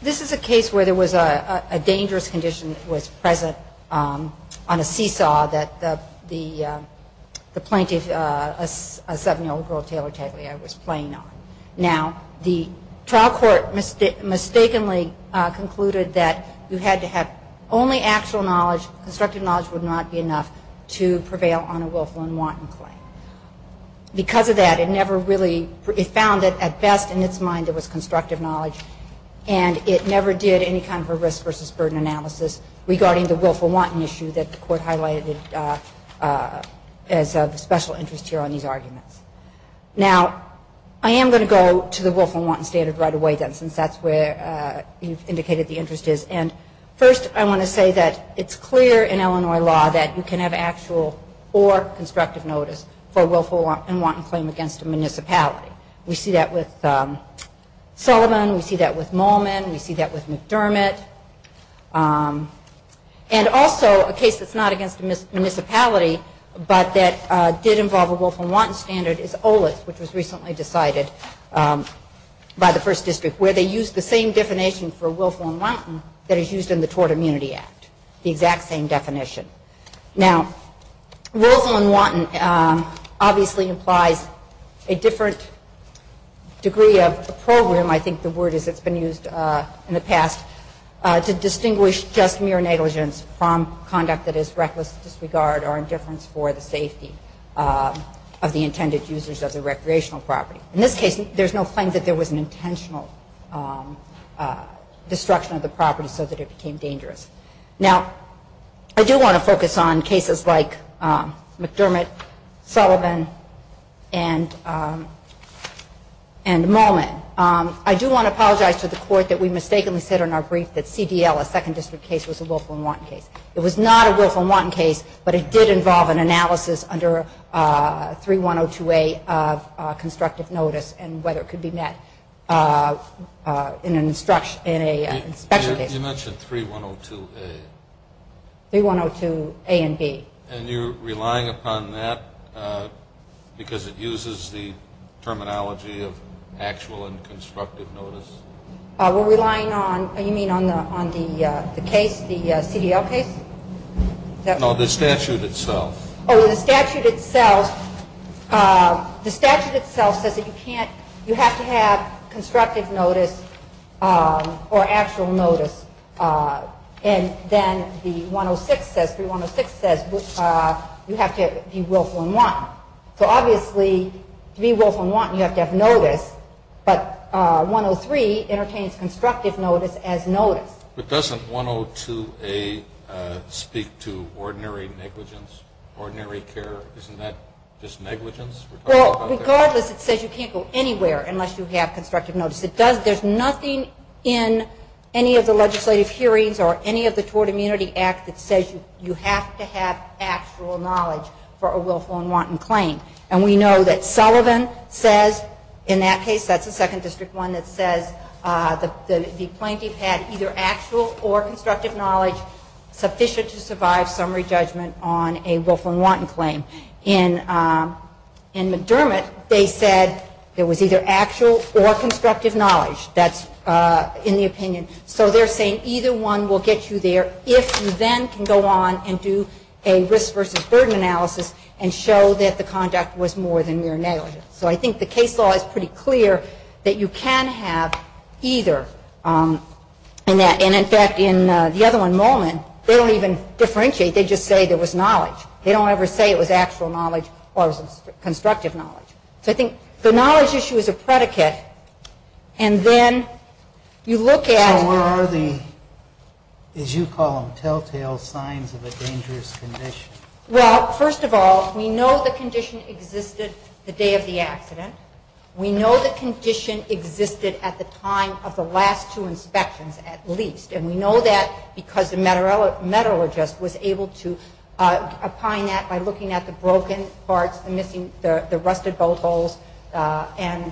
This is a case where there was a dangerous condition that was present on a seesaw that the plaintiff, a 7-year-old girl, Taylor Tagliere, was playing on. Now, the trial court mistakenly concluded that you had to have only actual knowledge, constructive knowledge would not be enough to prevail on a willful and wanton claim. Because of that, it never really, it found that at best in its mind it was constructive knowledge and it never did any kind of a risk versus burden analysis regarding the willful wanton issue that the court highlighted as of special interest here on these arguments. Now, I am going to go to the willful and wanton standard right away then since that's where you've indicated the interest is. And first I want to say that it's clear in Illinois law that you can have actual or constructive notice for a willful and wanton claim against a municipality. We see that with Sullivan, we see that with Molman, we see that with McDermott. And also a case that's not against a municipality but that did involve a willful and wanton standard is Olitz which was recently decided by the first district where they used the same definition for willful and wanton that is used in the Tort Immunity Act. The exact same definition. Now, willful and wanton obviously implies a different degree of program, I think the word is it's been used in the past, to distinguish just mere negligence from conduct that is reckless disregard or indifference for the safety of the intended users of the recreational property. In this case, there's no claim that there was an intentional destruction of the property so that it became dangerous. Now, I do want to focus on cases like McDermott, Sullivan, and Molman. I do want to apologize to the court that we mistakenly said in our brief that CDL, a second district case, was a willful and wanton case. It was not a willful and wanton case but it did involve an analysis under 3102A of constructive notice and whether it could be met in an inspection case. You mentioned 3102A. 3102A and B. And you're relying upon that because it uses the terminology of actual and constructive notice? We're relying on, you mean on the case, the CDL case? No, the statute itself. Oh, the statute itself, the statute itself says that you can't, you have to have constructive notice or actual notice. And then the 106 says, 3106 says you have to be willful and wanton. So obviously, to be willful and wanton, you have to have notice, but 103 entertains constructive notice as notice. But doesn't 102A speak to ordinary negligence, ordinary care? Isn't that just negligence? Regardless, it says you can't go anywhere unless you have constructive notice. There's nothing in any of the legislative hearings or any of the Tort Immunity Act that says you have to have actual knowledge for a willful and wanton claim. And we know that Sullivan says in that case, that's the second district one that says the plaintiff had either actual or constructive knowledge sufficient to survive summary judgment on a willful and wanton claim. In McDermott, they said it was either actual or constructive knowledge. That's in the opinion. So they're saying either one will get you there if you then can go on and do a risk versus burden analysis and show that the conduct was more than mere negligence. So I think the case law is pretty clear that you can have either. And in fact, in the other one, Molman, they don't even differentiate. They just say there was knowledge. They don't ever say it was actual knowledge or constructive knowledge. So I think the knowledge issue is a predicate. And then you look at... So where are the, as you call them, telltale signs of a dangerous condition? Well, first of all, we know the condition existed the day of the accident. We know the condition existed at the time of the last two inspections at least. And we know that because the metallurgist was able to opine that by looking at the broken parts, the rusted bolt holes, and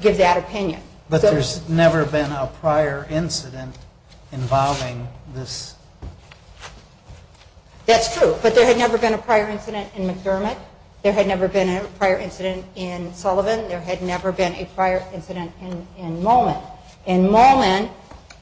give that opinion. But there's never been a prior incident involving this? That's true. But there had never been a prior incident in McDermott. There had never been a prior incident in Sullivan. There had never been a prior incident in Molman. In Molman,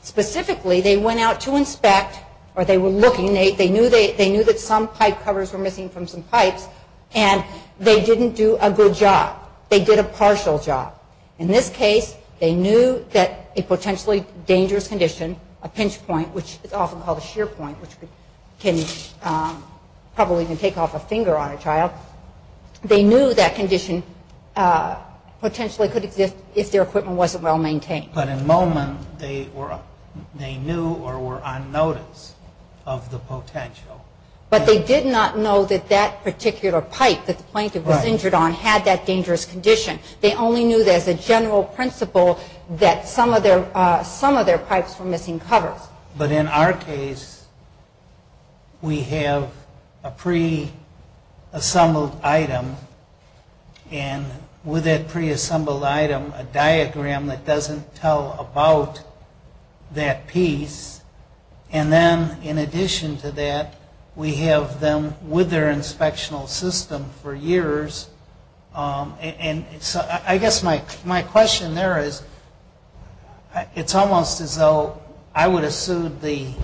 specifically, they went out to inspect, or they were looking, they knew that some pipe covers were missing from some pipes, and they didn't do a good job. They did a partial job. In this case, they knew that a potentially dangerous condition, a pinch point, which is often called a shear point, which can probably even take off a finger on a child, they knew that condition potentially could exist if their equipment wasn't well maintained. But in Molman, they knew or were on notice of the potential. But they did not know that that particular pipe that the plaintiff was injured on had that dangerous condition. They only knew as a general principle that some of their pipes were missing covers. But in our case, we have a pre-assembled item. And with that pre-assembled item, a diagram that doesn't tell about that piece. And then in addition to that, we have them with their inspectional system for years. And so I guess my question there is, it's almost as though I would have sued the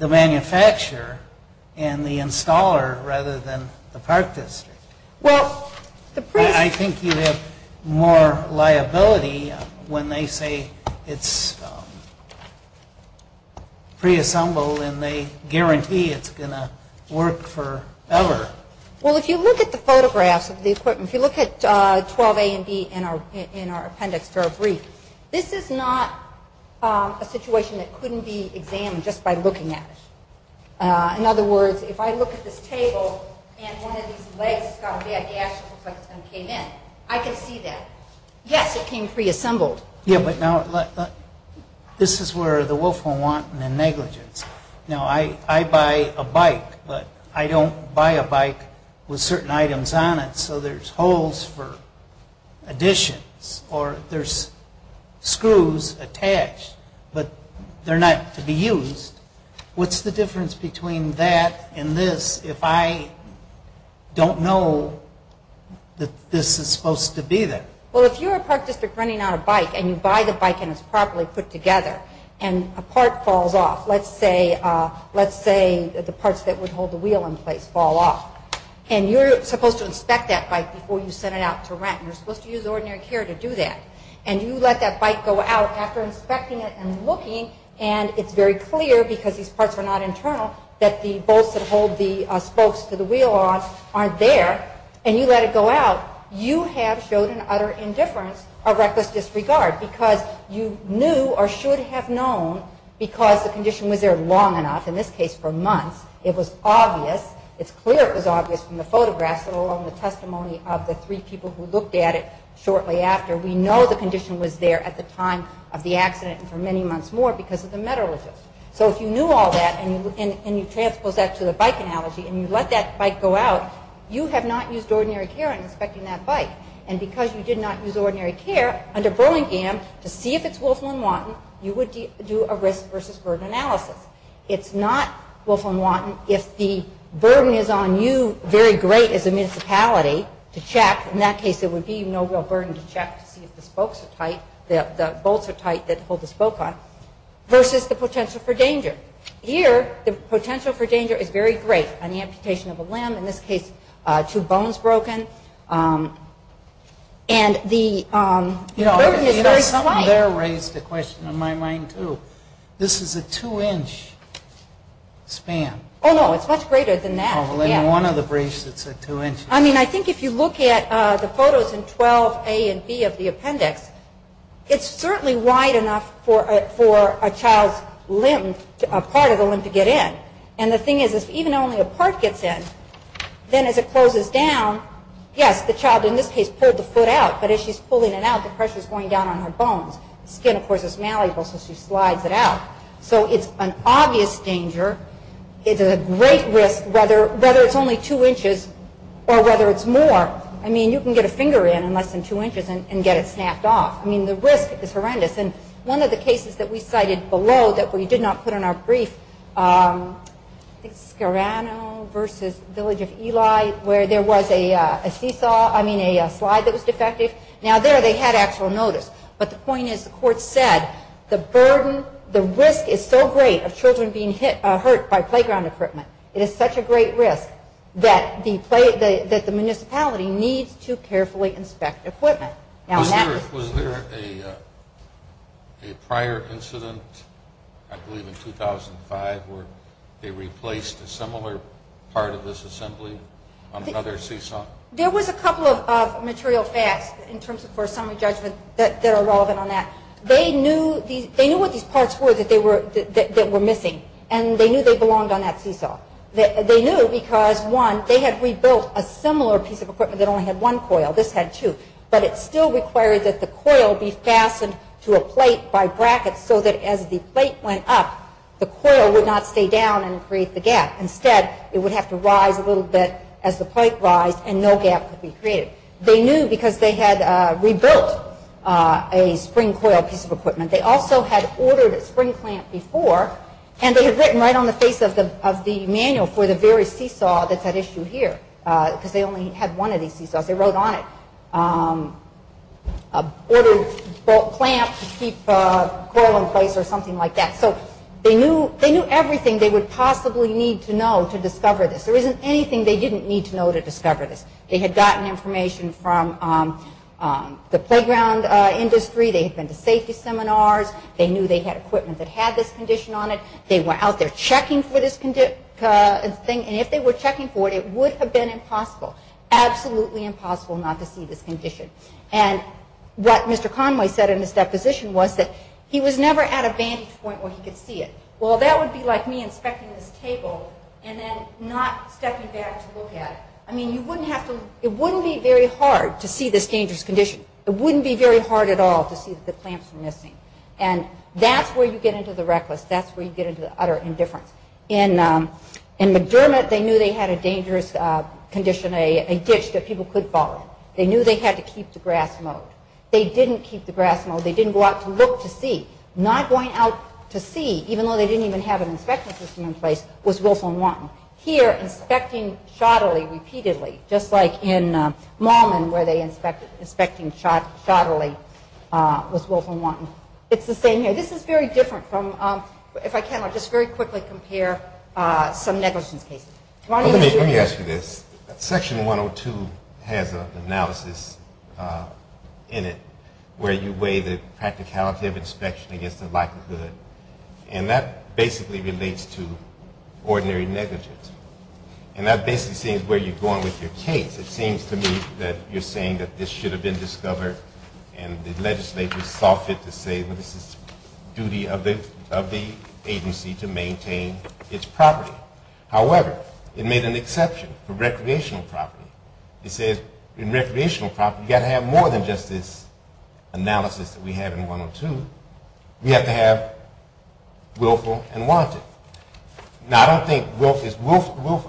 manufacturer and the installer rather than the park district. I think you have more liability when they say it's pre-assembled and they guarantee it's going to work forever. Well, if you look at the photographs of the equipment, if you look at 12 A and B in our appendix to our brief, this is not a situation that couldn't be examined just by looking at it. In other words, if I look at this table and one of these legs has got a bad gash and came in, I can see that. Yes, it came pre-assembled. Yeah, but now this is where the Wolf will want the negligence. Now, I buy a bike, but I don't buy a bike with certain items on it so there's holes for additions or there's screws attached, but they're not to be used. What's the difference between that and this if I don't know that this is supposed to be there? Well, if you're a park district running on a bike and you buy the bike and it's properly put together and a part falls off, let's say the parts that would hold the wheel in place fall off, and you're supposed to inspect that bike before you send it out to rent, you're supposed to use ordinary care to do that, and you let that bike go out after inspecting it and looking and it's very clear because these parts are not internal that the bolts that hold the spokes to the wheel on aren't there and you let it go out, you have showed an utter indifference or reckless disregard because you knew or should have known because the condition was there long enough, in this case for months, it was obvious, it's clear it was obvious from the photographs and along the testimony of the three people who looked at it shortly after, we know the condition was there at the time of the accident and for many months more because of the metallurgists. So if you knew all that and you transpose that to the bike analogy and you let that bike go out, you have not used ordinary care in inspecting that bike and because you did not use ordinary care, under Burlingame, to see if it's Wolflin-Wanton, you would do a risk versus burden analysis. It's not Wolflin-Wanton if the burden is on you very great as a municipality to check, in that case it would be no real burden to check to see if the spokes are tight, the bolts are tight that hold the spoke on, versus the potential for danger. Here, the potential for danger is very great on the amputation of a limb, in this case two bones broken, and the burden is very slight. You know, something there raised a question in my mind too. This is a two-inch span. Oh, no, it's much greater than that. Well, in one of the briefs it's a two-inch span. I mean, I think if you look at the photos in 12A and B of the appendix, it's certainly wide enough for a child's limb, a part of the limb to get in. And the thing is, if even only a part gets in, then as it closes down, yes, the child in this case pulled the foot out, but as she's pulling it out the pressure is going down on her bones. The skin, of course, is malleable so she slides it out. So it's an obvious danger. It's a great risk whether it's only two inches or whether it's more. I mean, you can get a finger in in less than two inches and get it snapped off. I mean, the risk is horrendous. And one of the cases that we cited below that we did not put in our brief, I think Scarano versus Village of Eli, where there was a seesaw, I mean a slide that was defective. Now there they had actual notice. But the point is the court said the burden, the risk is so great of children being hurt by playground equipment. It is such a great risk that the municipality needs to carefully inspect equipment. Was there a prior incident, I believe in 2005, where they replaced a similar part of this assembly on another seesaw? There was a couple of material facts in terms of summary judgment that are relevant on that. They knew what these parts were that were missing, and they knew they belonged on that seesaw. They knew because, one, they had rebuilt a similar piece of equipment that only had one coil. This had two. But it still required that the coil be fastened to a plate by brackets so that as the plate went up, the coil would not stay down and create the gap. Instead, it would have to rise a little bit as the plate rised, and no gap could be created. They knew because they had rebuilt a spring coil piece of equipment. They also had ordered a spring clamp before, and they had written right on the face of the manual for the very seesaw that's at issue here because they only had one of these seesaws. They wrote on it, ordered a clamp to keep the coil in place or something like that. So they knew everything they would possibly need to know to discover this. There isn't anything they didn't need to know to discover this. They had gotten information from the playground industry. They had been to safety seminars. They knew they had equipment that had this condition on it. They were out there checking for this thing, and if they were checking for it, it would have been impossible, absolutely impossible not to see this condition. And what Mr. Conway said in his deposition was that he was never at a vantage point where he could see it. Well, that would be like me inspecting this table and then not stepping back to look at it. I mean, it wouldn't be very hard to see this dangerous condition. It wouldn't be very hard at all to see that the clamps were missing. And that's where you get into the reckless. That's where you get into the utter indifference. In McDermott, they knew they had a dangerous condition, a ditch that people could fall in. They knew they had to keep the grass mowed. They didn't keep the grass mowed. They didn't go out to look to see. Not going out to see, even though they didn't even have an inspection system in place, was Wilson-Wanton. Here, inspecting shoddily, repeatedly, just like in Mallman, where they were inspecting shoddily, was Wilson-Wanton. It's the same here. This is very different from, if I can, I'll just very quickly compare some negligence cases. Let me ask you this. Section 102 has an analysis in it where you weigh the practicality of inspection against the likelihood. And that basically relates to ordinary negligence. And that basically says where you're going with your case. It seems to me that you're saying that this should have been discovered and the legislature saw fit to say that it's the duty of the agency to maintain its property. However, it made an exception for recreational property. It says in recreational property you've got to have more than just this analysis that we had in 102. We have to have Wilfo and Wanton. Now, I don't think Wilfo is,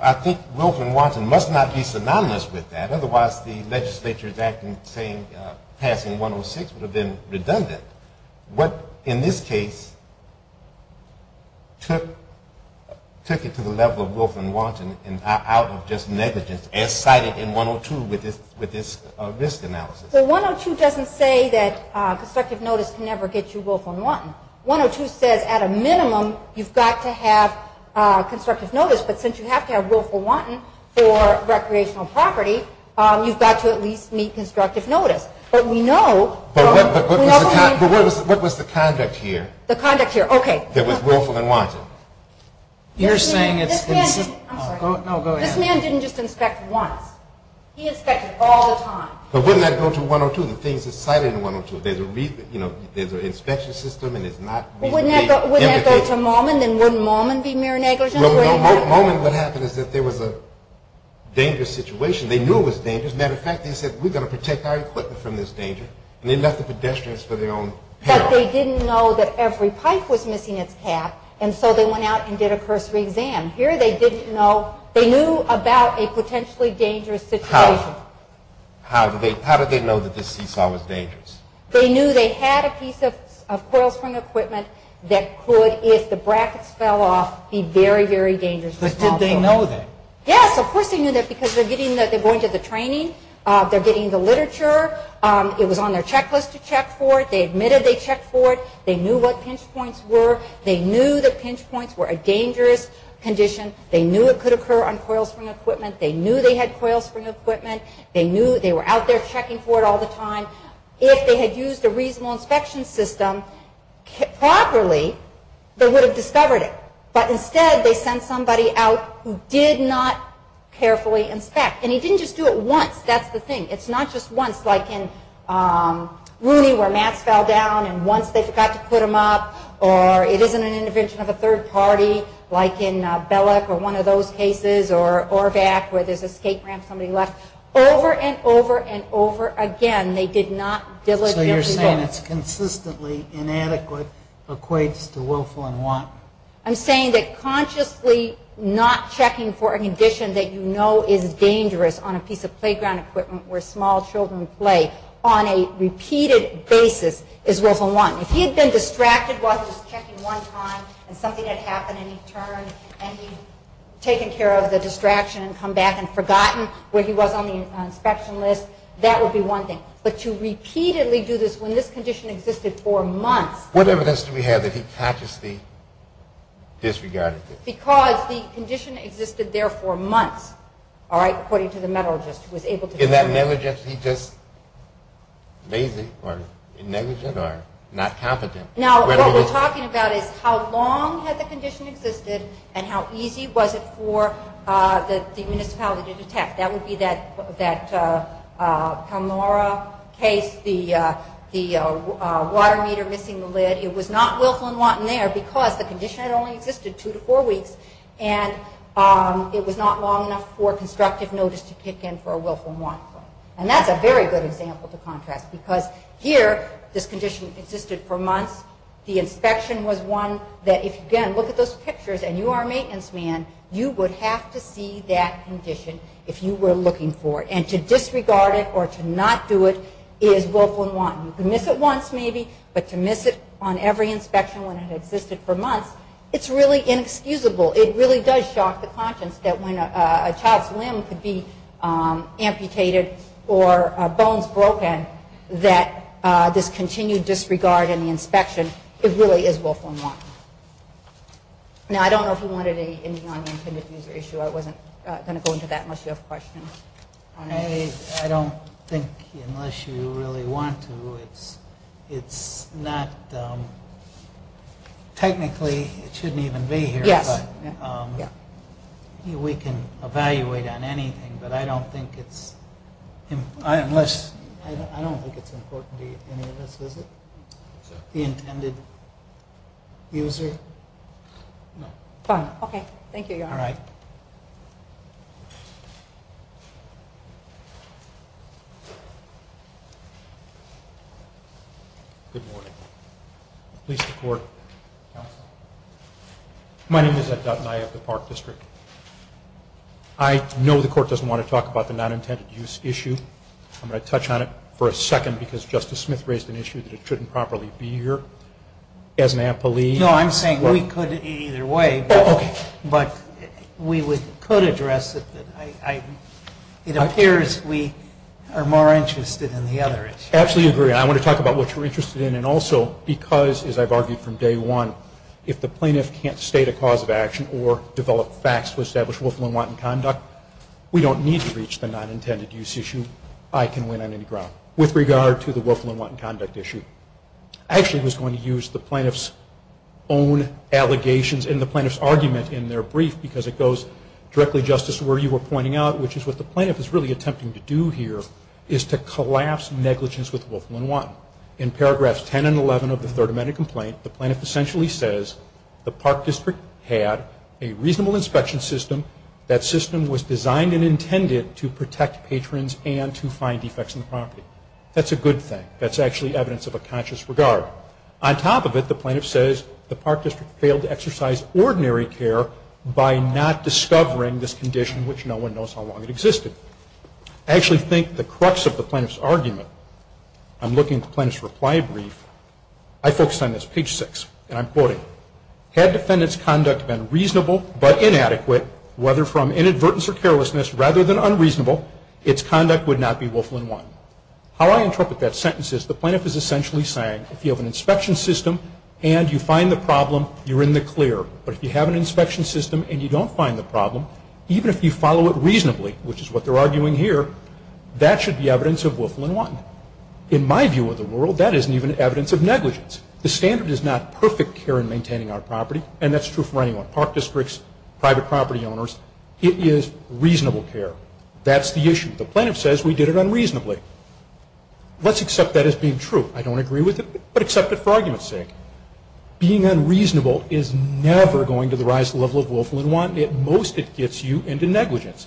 I think Wilfo and Wanton must not be synonymous with that. Otherwise, the legislature's passing 106 would have been redundant. What, in this case, took it to the level of Wilfo and Wanton out of just negligence as cited in 102 with this risk analysis? Well, 102 doesn't say that constructive notice can never get you Wilfo and Wanton. 102 says at a minimum you've got to have constructive notice, but since you have to have Wilfo and Wanton for recreational property, you've got to at least meet constructive notice. But we know- But what was the conduct here? The conduct here? Okay. That was Wilfo and Wanton. You're saying it's- I'm sorry. No, go ahead. This man didn't just inspect once. He inspected all the time. But wouldn't that go to 102, the things that's cited in 102? There's an inspection system and it's not- Wouldn't that go to Maumon? Then wouldn't Maumon be mere negligence? Well, Maumon, what happened is that there was a dangerous situation. They knew it was dangerous. As a matter of fact, they said, we're going to protect our equipment from this danger, and they left the pedestrians for their own peril. But they didn't know that every pipe was missing its cap, and so they went out and did a cursory exam. Here they didn't know. They knew about a potentially dangerous situation. How did they know that this seesaw was dangerous? They knew they had a piece of coil spring equipment that could, if the brackets fell off, be very, very dangerous. But did they know that? Yes, of course they knew that because they're going to the training. They're getting the literature. It was on their checklist to check for it. They admitted they checked for it. They knew what pinch points were. They knew that pinch points were a dangerous condition. They knew it could occur on coil spring equipment. They knew they had coil spring equipment. They knew they were out there checking for it all the time. If they had used a reasonable inspection system properly, they would have discovered it. But instead, they sent somebody out who did not carefully inspect. And he didn't just do it once. That's the thing. It's not just once, like in Rooney, where mats fell down, and once they forgot to put them up. Or it isn't an intervention of a third party, like in Belek or one of those cases, or ORVAC, where there's a skate ramp somebody left. Over and over and over again, they did not diligently look. So you're saying it's consistently inadequate equates to willful and want. I'm saying that consciously not checking for a condition that you know is dangerous on a piece of playground equipment where small children play on a repeated basis is willful and want. If he had been distracted while he was checking one time, and something had happened, and he turned and he'd taken care of the distraction and come back and forgotten where he was on the inspection list, that would be one thing. But to repeatedly do this when this condition existed for months. What evidence do we have that he consciously disregarded this? Because the condition existed there for months, all right, according to the metallurgist who was able to determine it. Is that negligently just lazy or negligent or not competent? Now, what we're talking about is how long had the condition existed and how easy was it for the municipality to detect. That would be that Kalmara case, the water meter missing the lid. It was not willful and want in there because the condition had only existed two to four weeks, and it was not long enough for constructive notice to kick in for a willful and want claim. And that's a very good example to contrast because here, this condition existed for months. The inspection was one that if you again look at those pictures and you are a maintenance man, you would have to see that condition if you were looking for it. And to disregard it or to not do it is willful and want. You can miss it once maybe, but to miss it on every inspection when it existed for months, it's really inexcusable. It really does shock the conscience that when a child's limb could be amputated or bones broken, that this continued disregard in the inspection, it really is willful and want. Now, I don't know if you wanted any on the intended user issue. I wasn't going to go into that unless you have questions. I don't think unless you really want to, it's not technically, it shouldn't even be here. Yes. We can evaluate on anything, but I don't think it's important to any of us, is it? The intended user? No. Fine. Okay. Thank you, Your Honor. All right. Good morning. Please, the Court. My name is Ed Dutton. I have the Park District. I know the Court doesn't want to talk about the non-intended use issue. I'm going to touch on it for a second because Justice Smith raised an issue that it shouldn't properly be here. No, I'm saying we could either way, but we could address it. It appears we are more interested in the other issue. Absolutely agree. And I want to talk about what you're interested in and also because, as I've argued from day one, if the plaintiff can't state a cause of action or develop facts to establish willful and wanton conduct, we don't need to reach the non-intended use issue. I can win on any ground. With regard to the willful and wanton conduct issue, I actually was going to use the plaintiff's own allegations and the plaintiff's argument in their brief because it goes directly, Justice, to where you were pointing out, which is what the plaintiff is really attempting to do here is to collapse negligence with willful and wanton. In paragraphs 10 and 11 of the Third Amendment complaint, the plaintiff essentially says the Park District had a reasonable inspection system. That system was designed and intended to protect patrons and to find defects in the property. That's a good thing. That's actually evidence of a conscious regard. On top of it, the plaintiff says the Park District failed to exercise ordinary care by not discovering this condition, which no one knows how long it existed. I actually think the crux of the plaintiff's argument, I'm looking at the plaintiff's reply brief, I focused on this, page 6, and I'm quoting, had defendant's conduct been reasonable but inadequate, whether from inadvertence or carelessness, rather than unreasonable, its conduct would not be willful and wanton. How I interpret that sentence is the plaintiff is essentially saying if you have an inspection system and you find the problem, you're in the clear. But if you have an inspection system and you don't find the problem, even if you follow it reasonably, which is what they're arguing here, that should be evidence of willful and wanton. In my view of the world, that isn't even evidence of negligence. The standard is not perfect care in maintaining our property, and that's true for anyone, Park Districts, private property owners. It is reasonable care. That's the issue. The plaintiff says we did it unreasonably. Let's accept that as being true. I don't agree with it, but accept it for argument's sake. Being unreasonable is never going to the rise to the level of willful and wanton. At most, it gets you into negligence.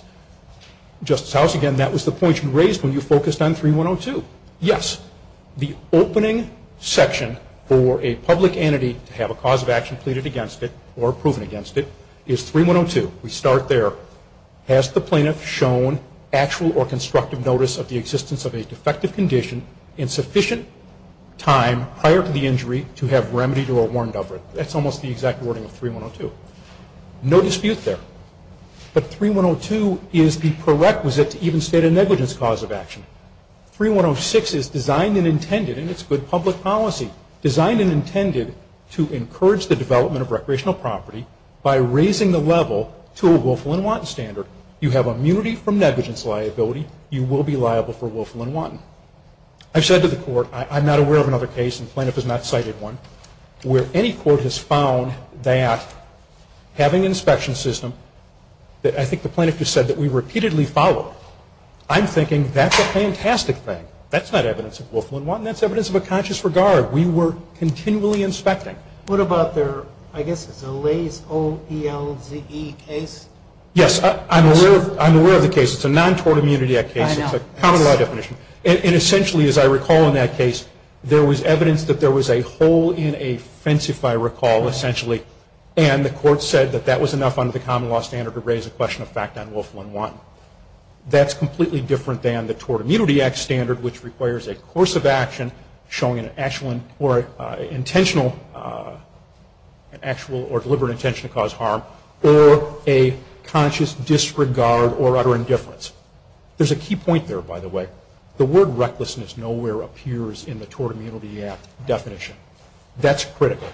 Justice House, again, that was the point you raised when you focused on 3102. Yes, the opening section for a public entity to have a cause of action pleaded against it or proven against it is 3102. We start there. Has the plaintiff shown actual or constructive notice of the existence of a defective condition in sufficient time prior to the injury to have remedy to a warrant of it? That's almost the exact wording of 3102. No dispute there. But 3102 is the prerequisite to even state a negligence cause of action. 3106 is designed and intended, and it's good public policy, designed and intended to encourage the development of recreational property by raising the level to a willful and wanton standard. You have immunity from negligence liability. You will be liable for willful and wanton. I've said to the court, I'm not aware of another case, and the plaintiff has not cited one, where any court has found that having an inspection system that I think the plaintiff just said that we repeatedly follow, I'm thinking that's a fantastic thing. That's not evidence of willful and wanton. That's evidence of a conscious regard. We were continually inspecting. What about their, I guess it's a Laze O-E-L-Z-E case? Yes, I'm aware of the case. It's a non-Tort Immunity Act case. It's a common law definition. Essentially, as I recall in that case, there was evidence that there was a hole in a fence, if I recall, essentially, and the court said that that was enough under the common law standard to raise a question of fact on willful and wanton. That's completely different than the Tort Immunity Act standard, which requires a course of action showing an actual or deliberate intention to cause harm or a conscious disregard or utter indifference. There's a key point there, by the way. The word recklessness nowhere appears in the Tort Immunity Act definition. That's critical.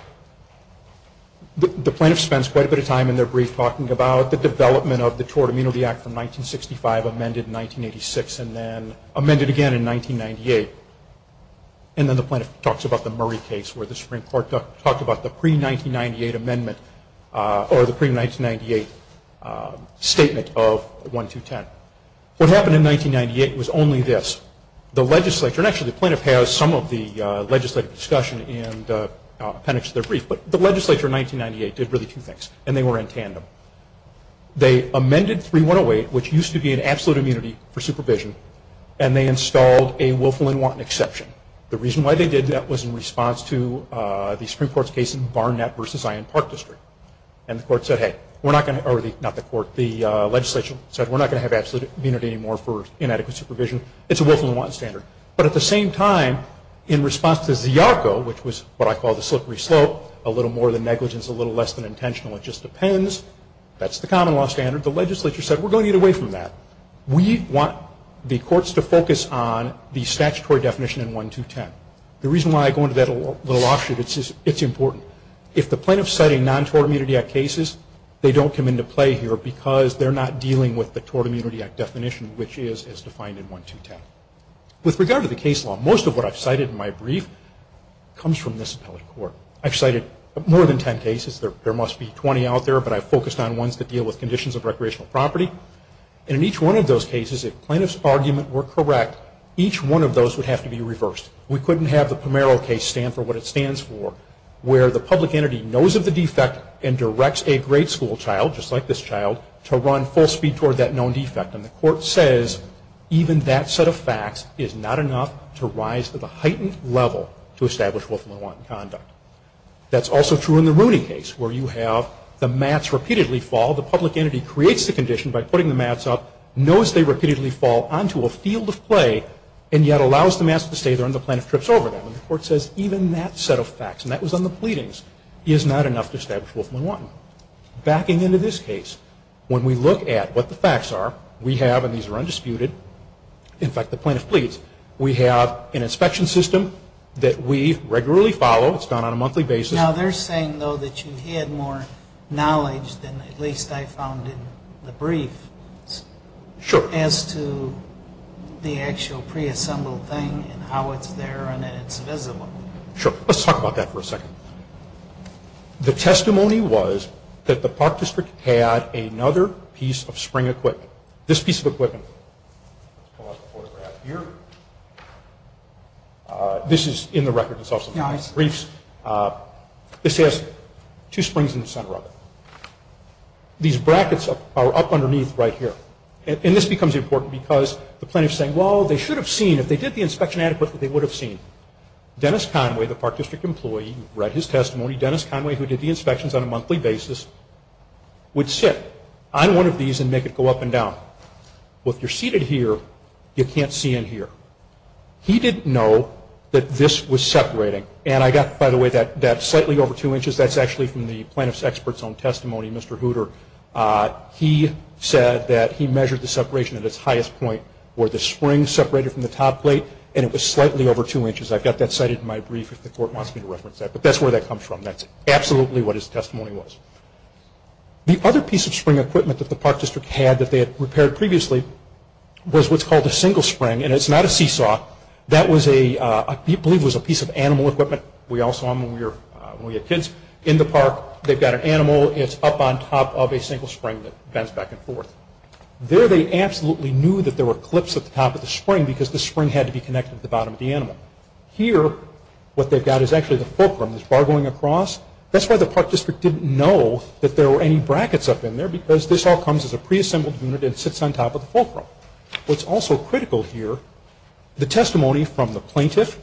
The plaintiff spends quite a bit of time in their brief talking about the development of the Tort Immunity Act from 1965, amended in 1986, and then amended again in 1998. And then the plaintiff talks about the Murray case, where the Supreme Court talked about the pre-1998 amendment or the pre-1998 statement of 1-2-10. What happened in 1998 was only this. The legislature, and actually the plaintiff has some of the legislative discussion and appendix to their brief, but the legislature in 1998 did really two things, and they were in tandem. They amended 3-1-0-8, which used to be an absolute immunity for supervision, and they installed a willful and wanton exception. The reason why they did that was in response to the Supreme Court's case in Barnett v. Ion Park District. And the court said, hey, we're not going to, or not the court, the legislature said, we're not going to have absolute immunity anymore for inadequate supervision. It's a willful and wanton standard. But at the same time, in response to ZIARCO, which was what I call the slippery slope, a little more than negligence, a little less than intentional, it just depends. That's the common law standard. The legislature said, we're going to get away from that. We want the courts to focus on the statutory definition in 1-2-10. The reason why I go into that a little offshoot, it's important. If the plaintiff's citing non-tort immunity act cases, they don't come into play here because they're not dealing with the Tort Immunity Act definition, which is as defined in 1-2-10. With regard to the case law, most of what I've cited in my brief comes from this appellate court. I've cited more than 10 cases. There must be 20 out there, but I've focused on ones that deal with conditions of recreational property. And in each one of those cases, if plaintiff's argument were correct, each one of those would have to be reversed. We couldn't have the Pomero case stand for what it stands for, where the public entity knows of the defect and directs a grade school child, just like this child, to run full speed toward that known defect. And the court says, even that set of facts is not enough to rise to the heightened level to establish willful and wanton conduct. That's also true in the Rooney case, where you have the mats repeatedly fall. The public entity creates the condition by putting the mats up, knows they repeatedly fall onto a field of play, and yet allows the mats to stay there and the plaintiff trips over them. And the court says, even that set of facts, and that was on the pleadings, is not enough to establish willful and wanton. Backing into this case, when we look at what the facts are, we have, and these are undisputed, in fact, the plaintiff pleads, we have an inspection system that we regularly follow. It's done on a monthly basis. Now, they're saying, though, that you had more knowledge than at least I found in the brief. Sure. As to the actual preassembled thing and how it's there and that it's visible. Sure. Let's talk about that for a second. The testimony was that the Park District had another piece of spring equipment. This piece of equipment, let's pull out the photograph here. This is in the record. It's also in the briefs. This has two springs in the center of it. These brackets are up underneath right here. And this becomes important because the plaintiff is saying, well, they should have seen, if they did the inspection adequately, they would have seen. Dennis Conway, the Park District employee, read his testimony. Dennis Conway, who did the inspections on a monthly basis, would sit on one of these and make it go up and down. Well, if you're seated here, you can't see in here. He didn't know that this was separating. And I got, by the way, that slightly over two inches. That's actually from the plaintiff's expert's own testimony, Mr. Hooter. He said that he measured the separation at its highest point where the spring separated from the top plate and it was slightly over two inches. I've got that cited in my brief if the court wants me to reference that. But that's where that comes from. That's absolutely what his testimony was. The other piece of spring equipment that the Park District had that they had repaired previously was what's called a single spring. And it's not a seesaw. That was a piece of animal equipment we all saw when we were kids in the park. They've got an animal. It's up on top of a single spring that bends back and forth. There they absolutely knew that there were clips at the top of the spring because the spring had to be connected to the bottom of the animal. Here, what they've got is actually the fulcrum. There's bar going across. That's why the Park District didn't know that there were any brackets up in there because this all comes as a preassembled unit and sits on top of the fulcrum. What's also critical here, the testimony from the plaintiff,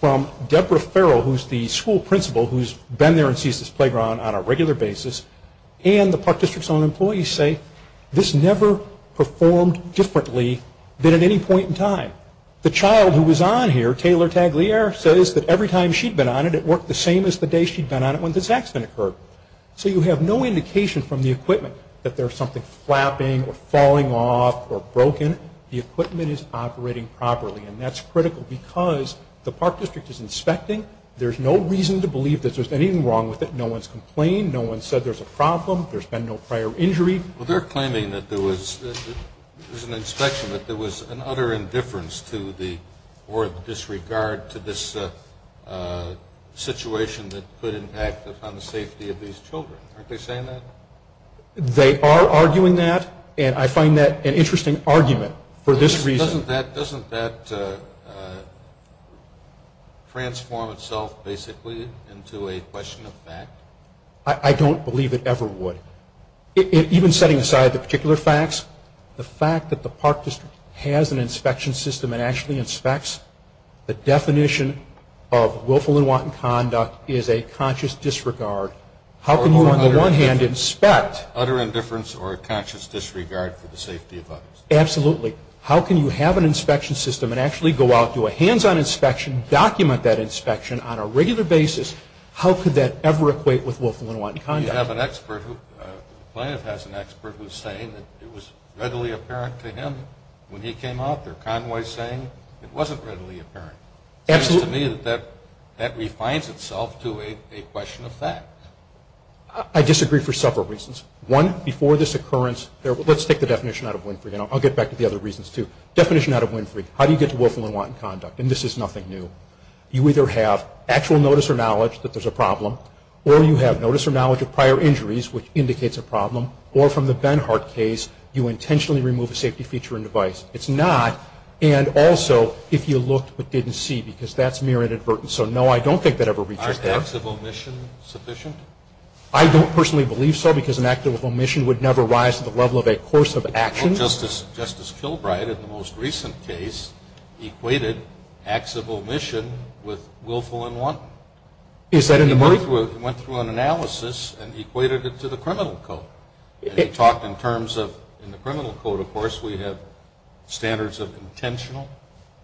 from Deborah Farrell, who's the school principal who's been there and sees this playground on a regular basis, and the Park District's own employees say this never performed differently than at any point in time. The child who was on here, Taylor Taglier, says that every time she'd been on it, it worked the same as the day she'd been on it when this accident occurred. So you have no indication from the equipment that there's something flapping or falling off or broken. The equipment is operating properly, and that's critical because the Park District is inspecting. There's no reason to believe that there's anything wrong with it. No one's complained. No one said there's a problem. There's been no prior injury. Well, they're claiming that there was an inspection, that there was an utter indifference to or disregard to this situation that could impact upon the safety of these children. Aren't they saying that? They are arguing that, and I find that an interesting argument for this reason. Doesn't that transform itself basically into a question of fact? I don't believe it ever would. Even setting aside the particular facts, the fact that the Park District has an inspection system and actually inspects, the definition of willful and wanton conduct is a conscious disregard. How can you, on the one hand, inspect? Utter indifference or a conscious disregard for the safety of others. Absolutely. How can you have an inspection system and actually go out, do a hands-on inspection, document that inspection on a regular basis? How could that ever equate with willful and wanton conduct? You have an expert, the plaintiff has an expert, who's saying that it was readily apparent to him when he came out there. Conway's saying it wasn't readily apparent. It seems to me that that refines itself to a question of fact. I disagree for several reasons. One, before this occurrence, let's take the definition out of Winfrey, and I'll get back to the other reasons, too. Definition out of Winfrey, how do you get to willful and wanton conduct? And this is nothing new. You either have actual notice or knowledge that there's a problem, or you have notice or knowledge of prior injuries, which indicates a problem, or from the Benhart case, you intentionally remove a safety feature and device. It's not. And also, if you looked but didn't see, because that's mere inadvertence. So, no, I don't think that ever reaches there. Aren't acts of omission sufficient? I don't personally believe so, because an act of omission would never rise to the level of a course of action. Well, Justice Kilbride, in the most recent case, equated acts of omission with willful and wanton. He went through an analysis and equated it to the criminal code. And he talked in terms of, in the criminal code, of course, we have standards of intentional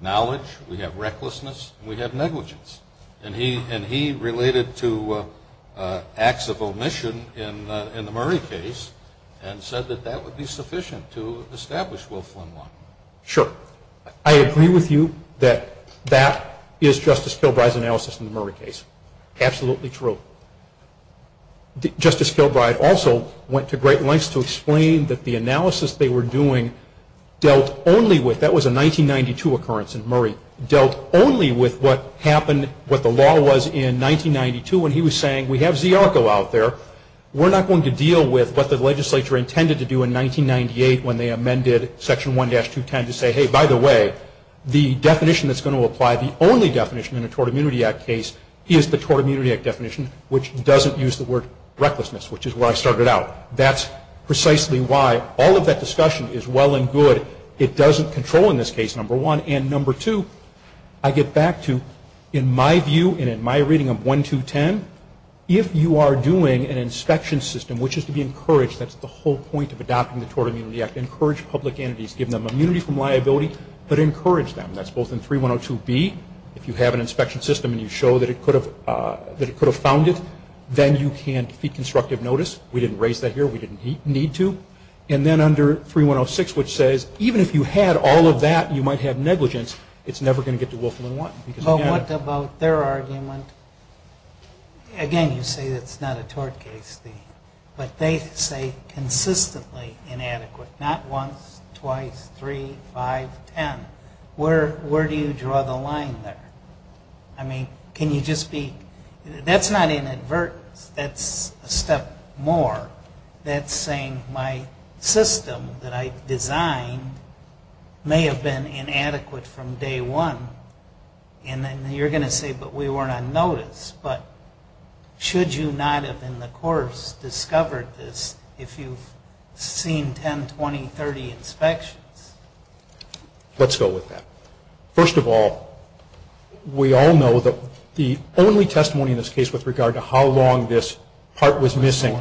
knowledge, we have recklessness, and we have negligence. And he related to acts of omission in the Murray case and said that that would be sufficient to establish willful and wanton. Sure. I agree with you that that is Justice Kilbride's analysis in the Murray case. Absolutely true. Justice Kilbride also went to great lengths to explain that the analysis they were doing dealt only with, that was a 1992 occurrence in Murray, dealt only with what happened, what the law was in 1992 when he was saying, we have ZRCO out there, we're not going to deal with what the legislature intended to do in 1998 when they amended Section 1-210 to say, hey, by the way, the definition that's going to apply, the only definition in a Tort Immunity Act case, is the Tort Immunity Act definition, which doesn't use the word recklessness, which is where I started out. That's precisely why all of that discussion is well and good. It doesn't control in this case, number one. And number two, I get back to, in my view and in my reading of 1-210, if you are doing an inspection system, which is to be encouraged, that's the whole point of adopting the Tort Immunity Act, encourage public entities, give them immunity from liability, but encourage them. That's both in 3-102B, if you have an inspection system and you show that it could have found it, then you can't feed constructive notice. We didn't raise that here. We didn't need to. And then under 3-106, which says, even if you had all of that, you might have negligence, it's never going to get to Willful and Wanton. But what about their argument? Again, you say it's not a tort case. But they say consistently inadequate, not once, twice, three, five, ten. Where do you draw the line there? I mean, can you just be, that's not inadvertence. That's a step more. That's saying my system that I designed may have been inadequate from day one. And then you're going to say, but we weren't on notice. But should you not have, in the course, discovered this if you've seen 10, 20, 30 inspections? Let's go with that. First of all, we all know that the only testimony in this case with regard to how long this part was missing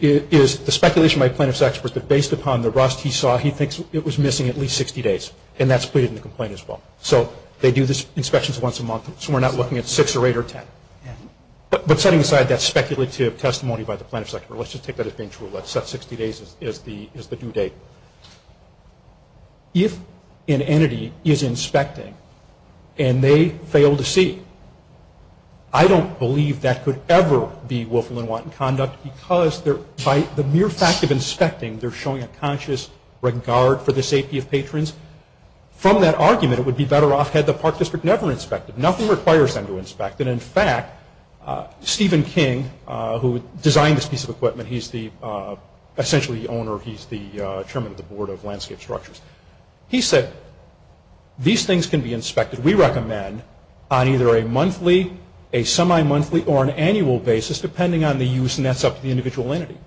is the speculation by plaintiff's experts that based upon the rust he saw, he thinks it was missing at least 60 days. And that's pleaded in the complaint as well. So they do these inspections once a month. So we're not looking at six or eight or ten. But setting aside that speculative testimony by the plaintiff's expert, let's just take that as being true. Let's set 60 days as the due date. If an entity is inspecting and they fail to see, I don't believe that could ever be Willful and Wanton conduct because by the mere fact of inspecting, they're showing a conscious regard for the safety of patrons. From that argument, it would be better off had the park district never inspected. Nothing requires them to inspect. And, in fact, Stephen King, who designed this piece of equipment, he's essentially the owner. He's the chairman of the Board of Landscape Structures. He said, these things can be inspected, we recommend, on either a monthly, a semi-monthly, or an annual basis depending on the use, and that's up to the individual entity.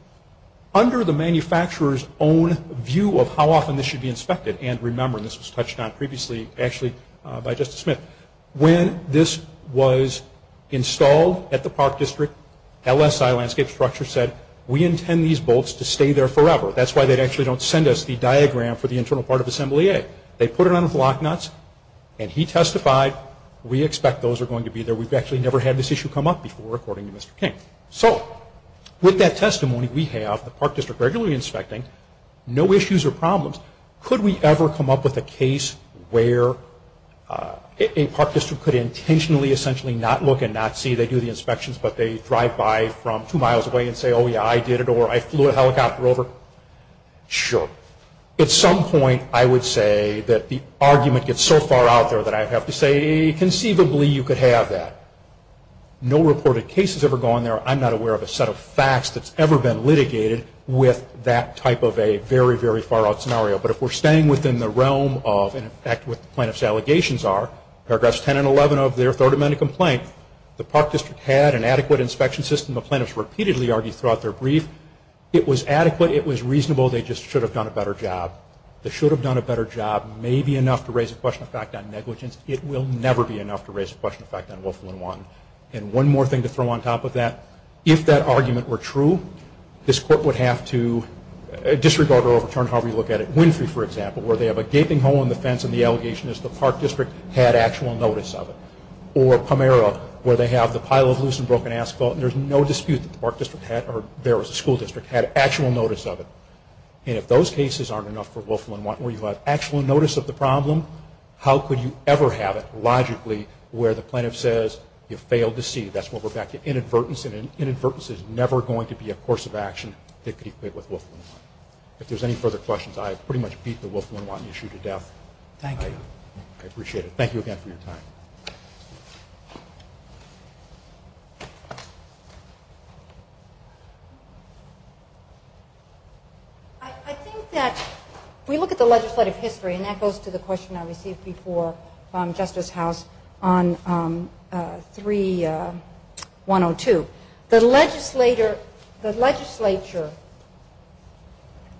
Under the manufacturer's own view of how often this should be inspected, and remember this was touched on previously actually by Justice Smith, when this was installed at the park district, LSI Landscape Structures said, we intend these bolts to stay there forever. That's why they actually don't send us the diagram for the internal part of Assembly A. They put it on with lock nuts and he testified, we expect those are going to be there. We've actually never had this issue come up before according to Mr. King. So, with that testimony, we have the park district regularly inspecting, no issues or problems. Could we ever come up with a case where a park district could intentionally, essentially, not look and not see they do the inspections, but they drive by from two miles away and say, oh, yeah, I did it, or I flew a helicopter over? Sure. At some point, I would say that the argument gets so far out there that I'd have to say, conceivably, you could have that. No reported cases ever go on there. I'm not aware of a set of facts that's ever been litigated with that type of a very, very far-out scenario. But if we're staying within the realm of, in effect, what the plaintiff's allegations are, paragraphs 10 and 11 of their Third Amendment complaint, the park district had an adequate inspection system. The plaintiffs repeatedly argued throughout their brief, it was adequate, it was reasonable, they just should have done a better job. The should have done a better job may be enough to raise a question of fact on negligence. It will never be enough to raise a question of fact on Willful and Wanton. And one more thing to throw on top of that, if that argument were true, this court would have to disregard or overturn however you look at it. Winfrey, for example, where they have a gaping hole in the fence and the allegation is the park district had actual notice of it. Or Pomera, where they have the pile of loose and broken asphalt, and there's no dispute that the park district had, or there was a school district, had actual notice of it. And if those cases aren't enough for Willful and Wanton, where you have actual notice of the problem, how could you ever have it logically where the plaintiff says you failed to see. That's where we're back to inadvertence, and inadvertence is never going to be a course of action that could equate with Willful and Wanton. If there's any further questions, I pretty much beat the Willful and Wanton issue to death. Thank you. I appreciate it. Thank you again for your time. I think that if we look at the legislative history, and that goes to the question I received before Justice House on 3-102, the legislature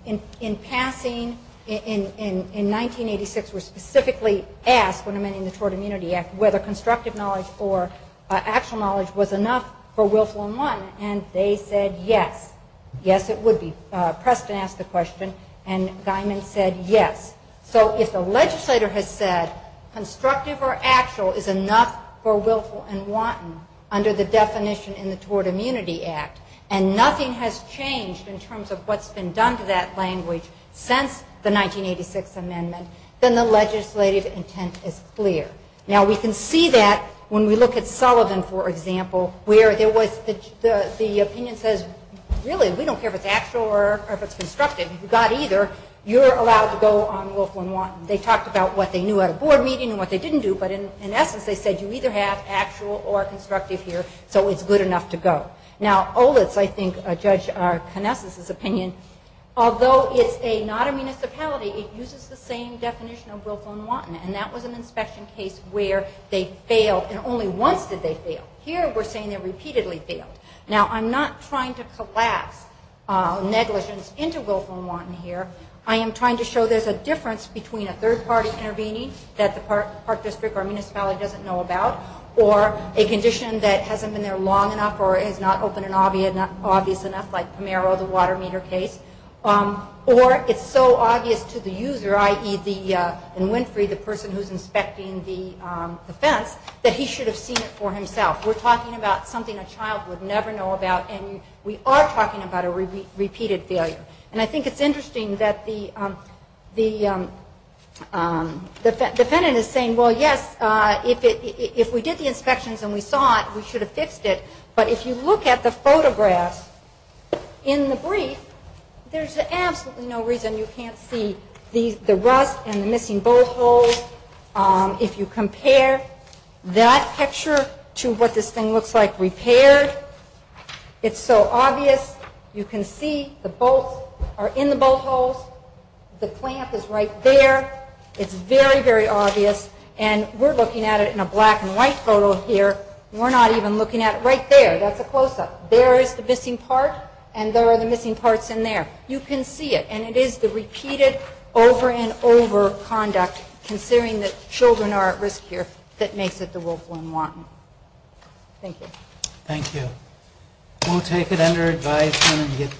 in passing in 1986 was specifically asked when amending the Tort Immunity Act whether constructive knowledge or actual knowledge was enough for Willful and Wanton, and they said yes. Yes, it would be. Preston asked the question, and Guymon said yes. So if the legislator has said constructive or actual is enough for Willful and Wanton under the definition in the Tort Immunity Act, and nothing has changed in terms of what's been done to that language since the 1986 amendment, then the legislative intent is clear. Now, we can see that when we look at Sullivan, for example, where the opinion says, really, we don't care if it's actual or if it's constructive. You've got either. You're allowed to go on Willful and Wanton. They talked about what they knew at a board meeting and what they didn't do, but in essence they said you either have actual or constructive here, so it's good enough to go. Now, Olitz, I think, judged Knesset's opinion. And that was an inspection case where they failed, and only once did they fail. Here we're saying they repeatedly failed. Now, I'm not trying to collapse negligence into Willful and Wanton here. I am trying to show there's a difference between a third-party intervening that the park district or municipality doesn't know about, or a condition that hasn't been there long enough or is not open and obvious enough, like Pomeroy, the water meter case, or it's so obvious to the user, i.e., in Winfrey, the person who's inspecting the fence, that he should have seen it for himself. We're talking about something a child would never know about, and we are talking about a repeated failure. And I think it's interesting that the defendant is saying, well, yes, if we did the inspections and we saw it, we should have fixed it. But if you look at the photographs in the brief, there's absolutely no reason you can't see the rust and the missing bolt holes. If you compare that picture to what this thing looks like repaired, it's so obvious. You can see the bolts are in the bolt holes. The clamp is right there. It's very, very obvious. And we're looking at it in a black-and-white photo here. We're not even looking at it. Right there, that's a close-up. There is the missing part, and there are the missing parts in there. You can see it. And it is the repeated over-and-over conduct, considering that children are at risk here, that makes it the wolf one want. Thank you. We'll take it under advisement and get back to you.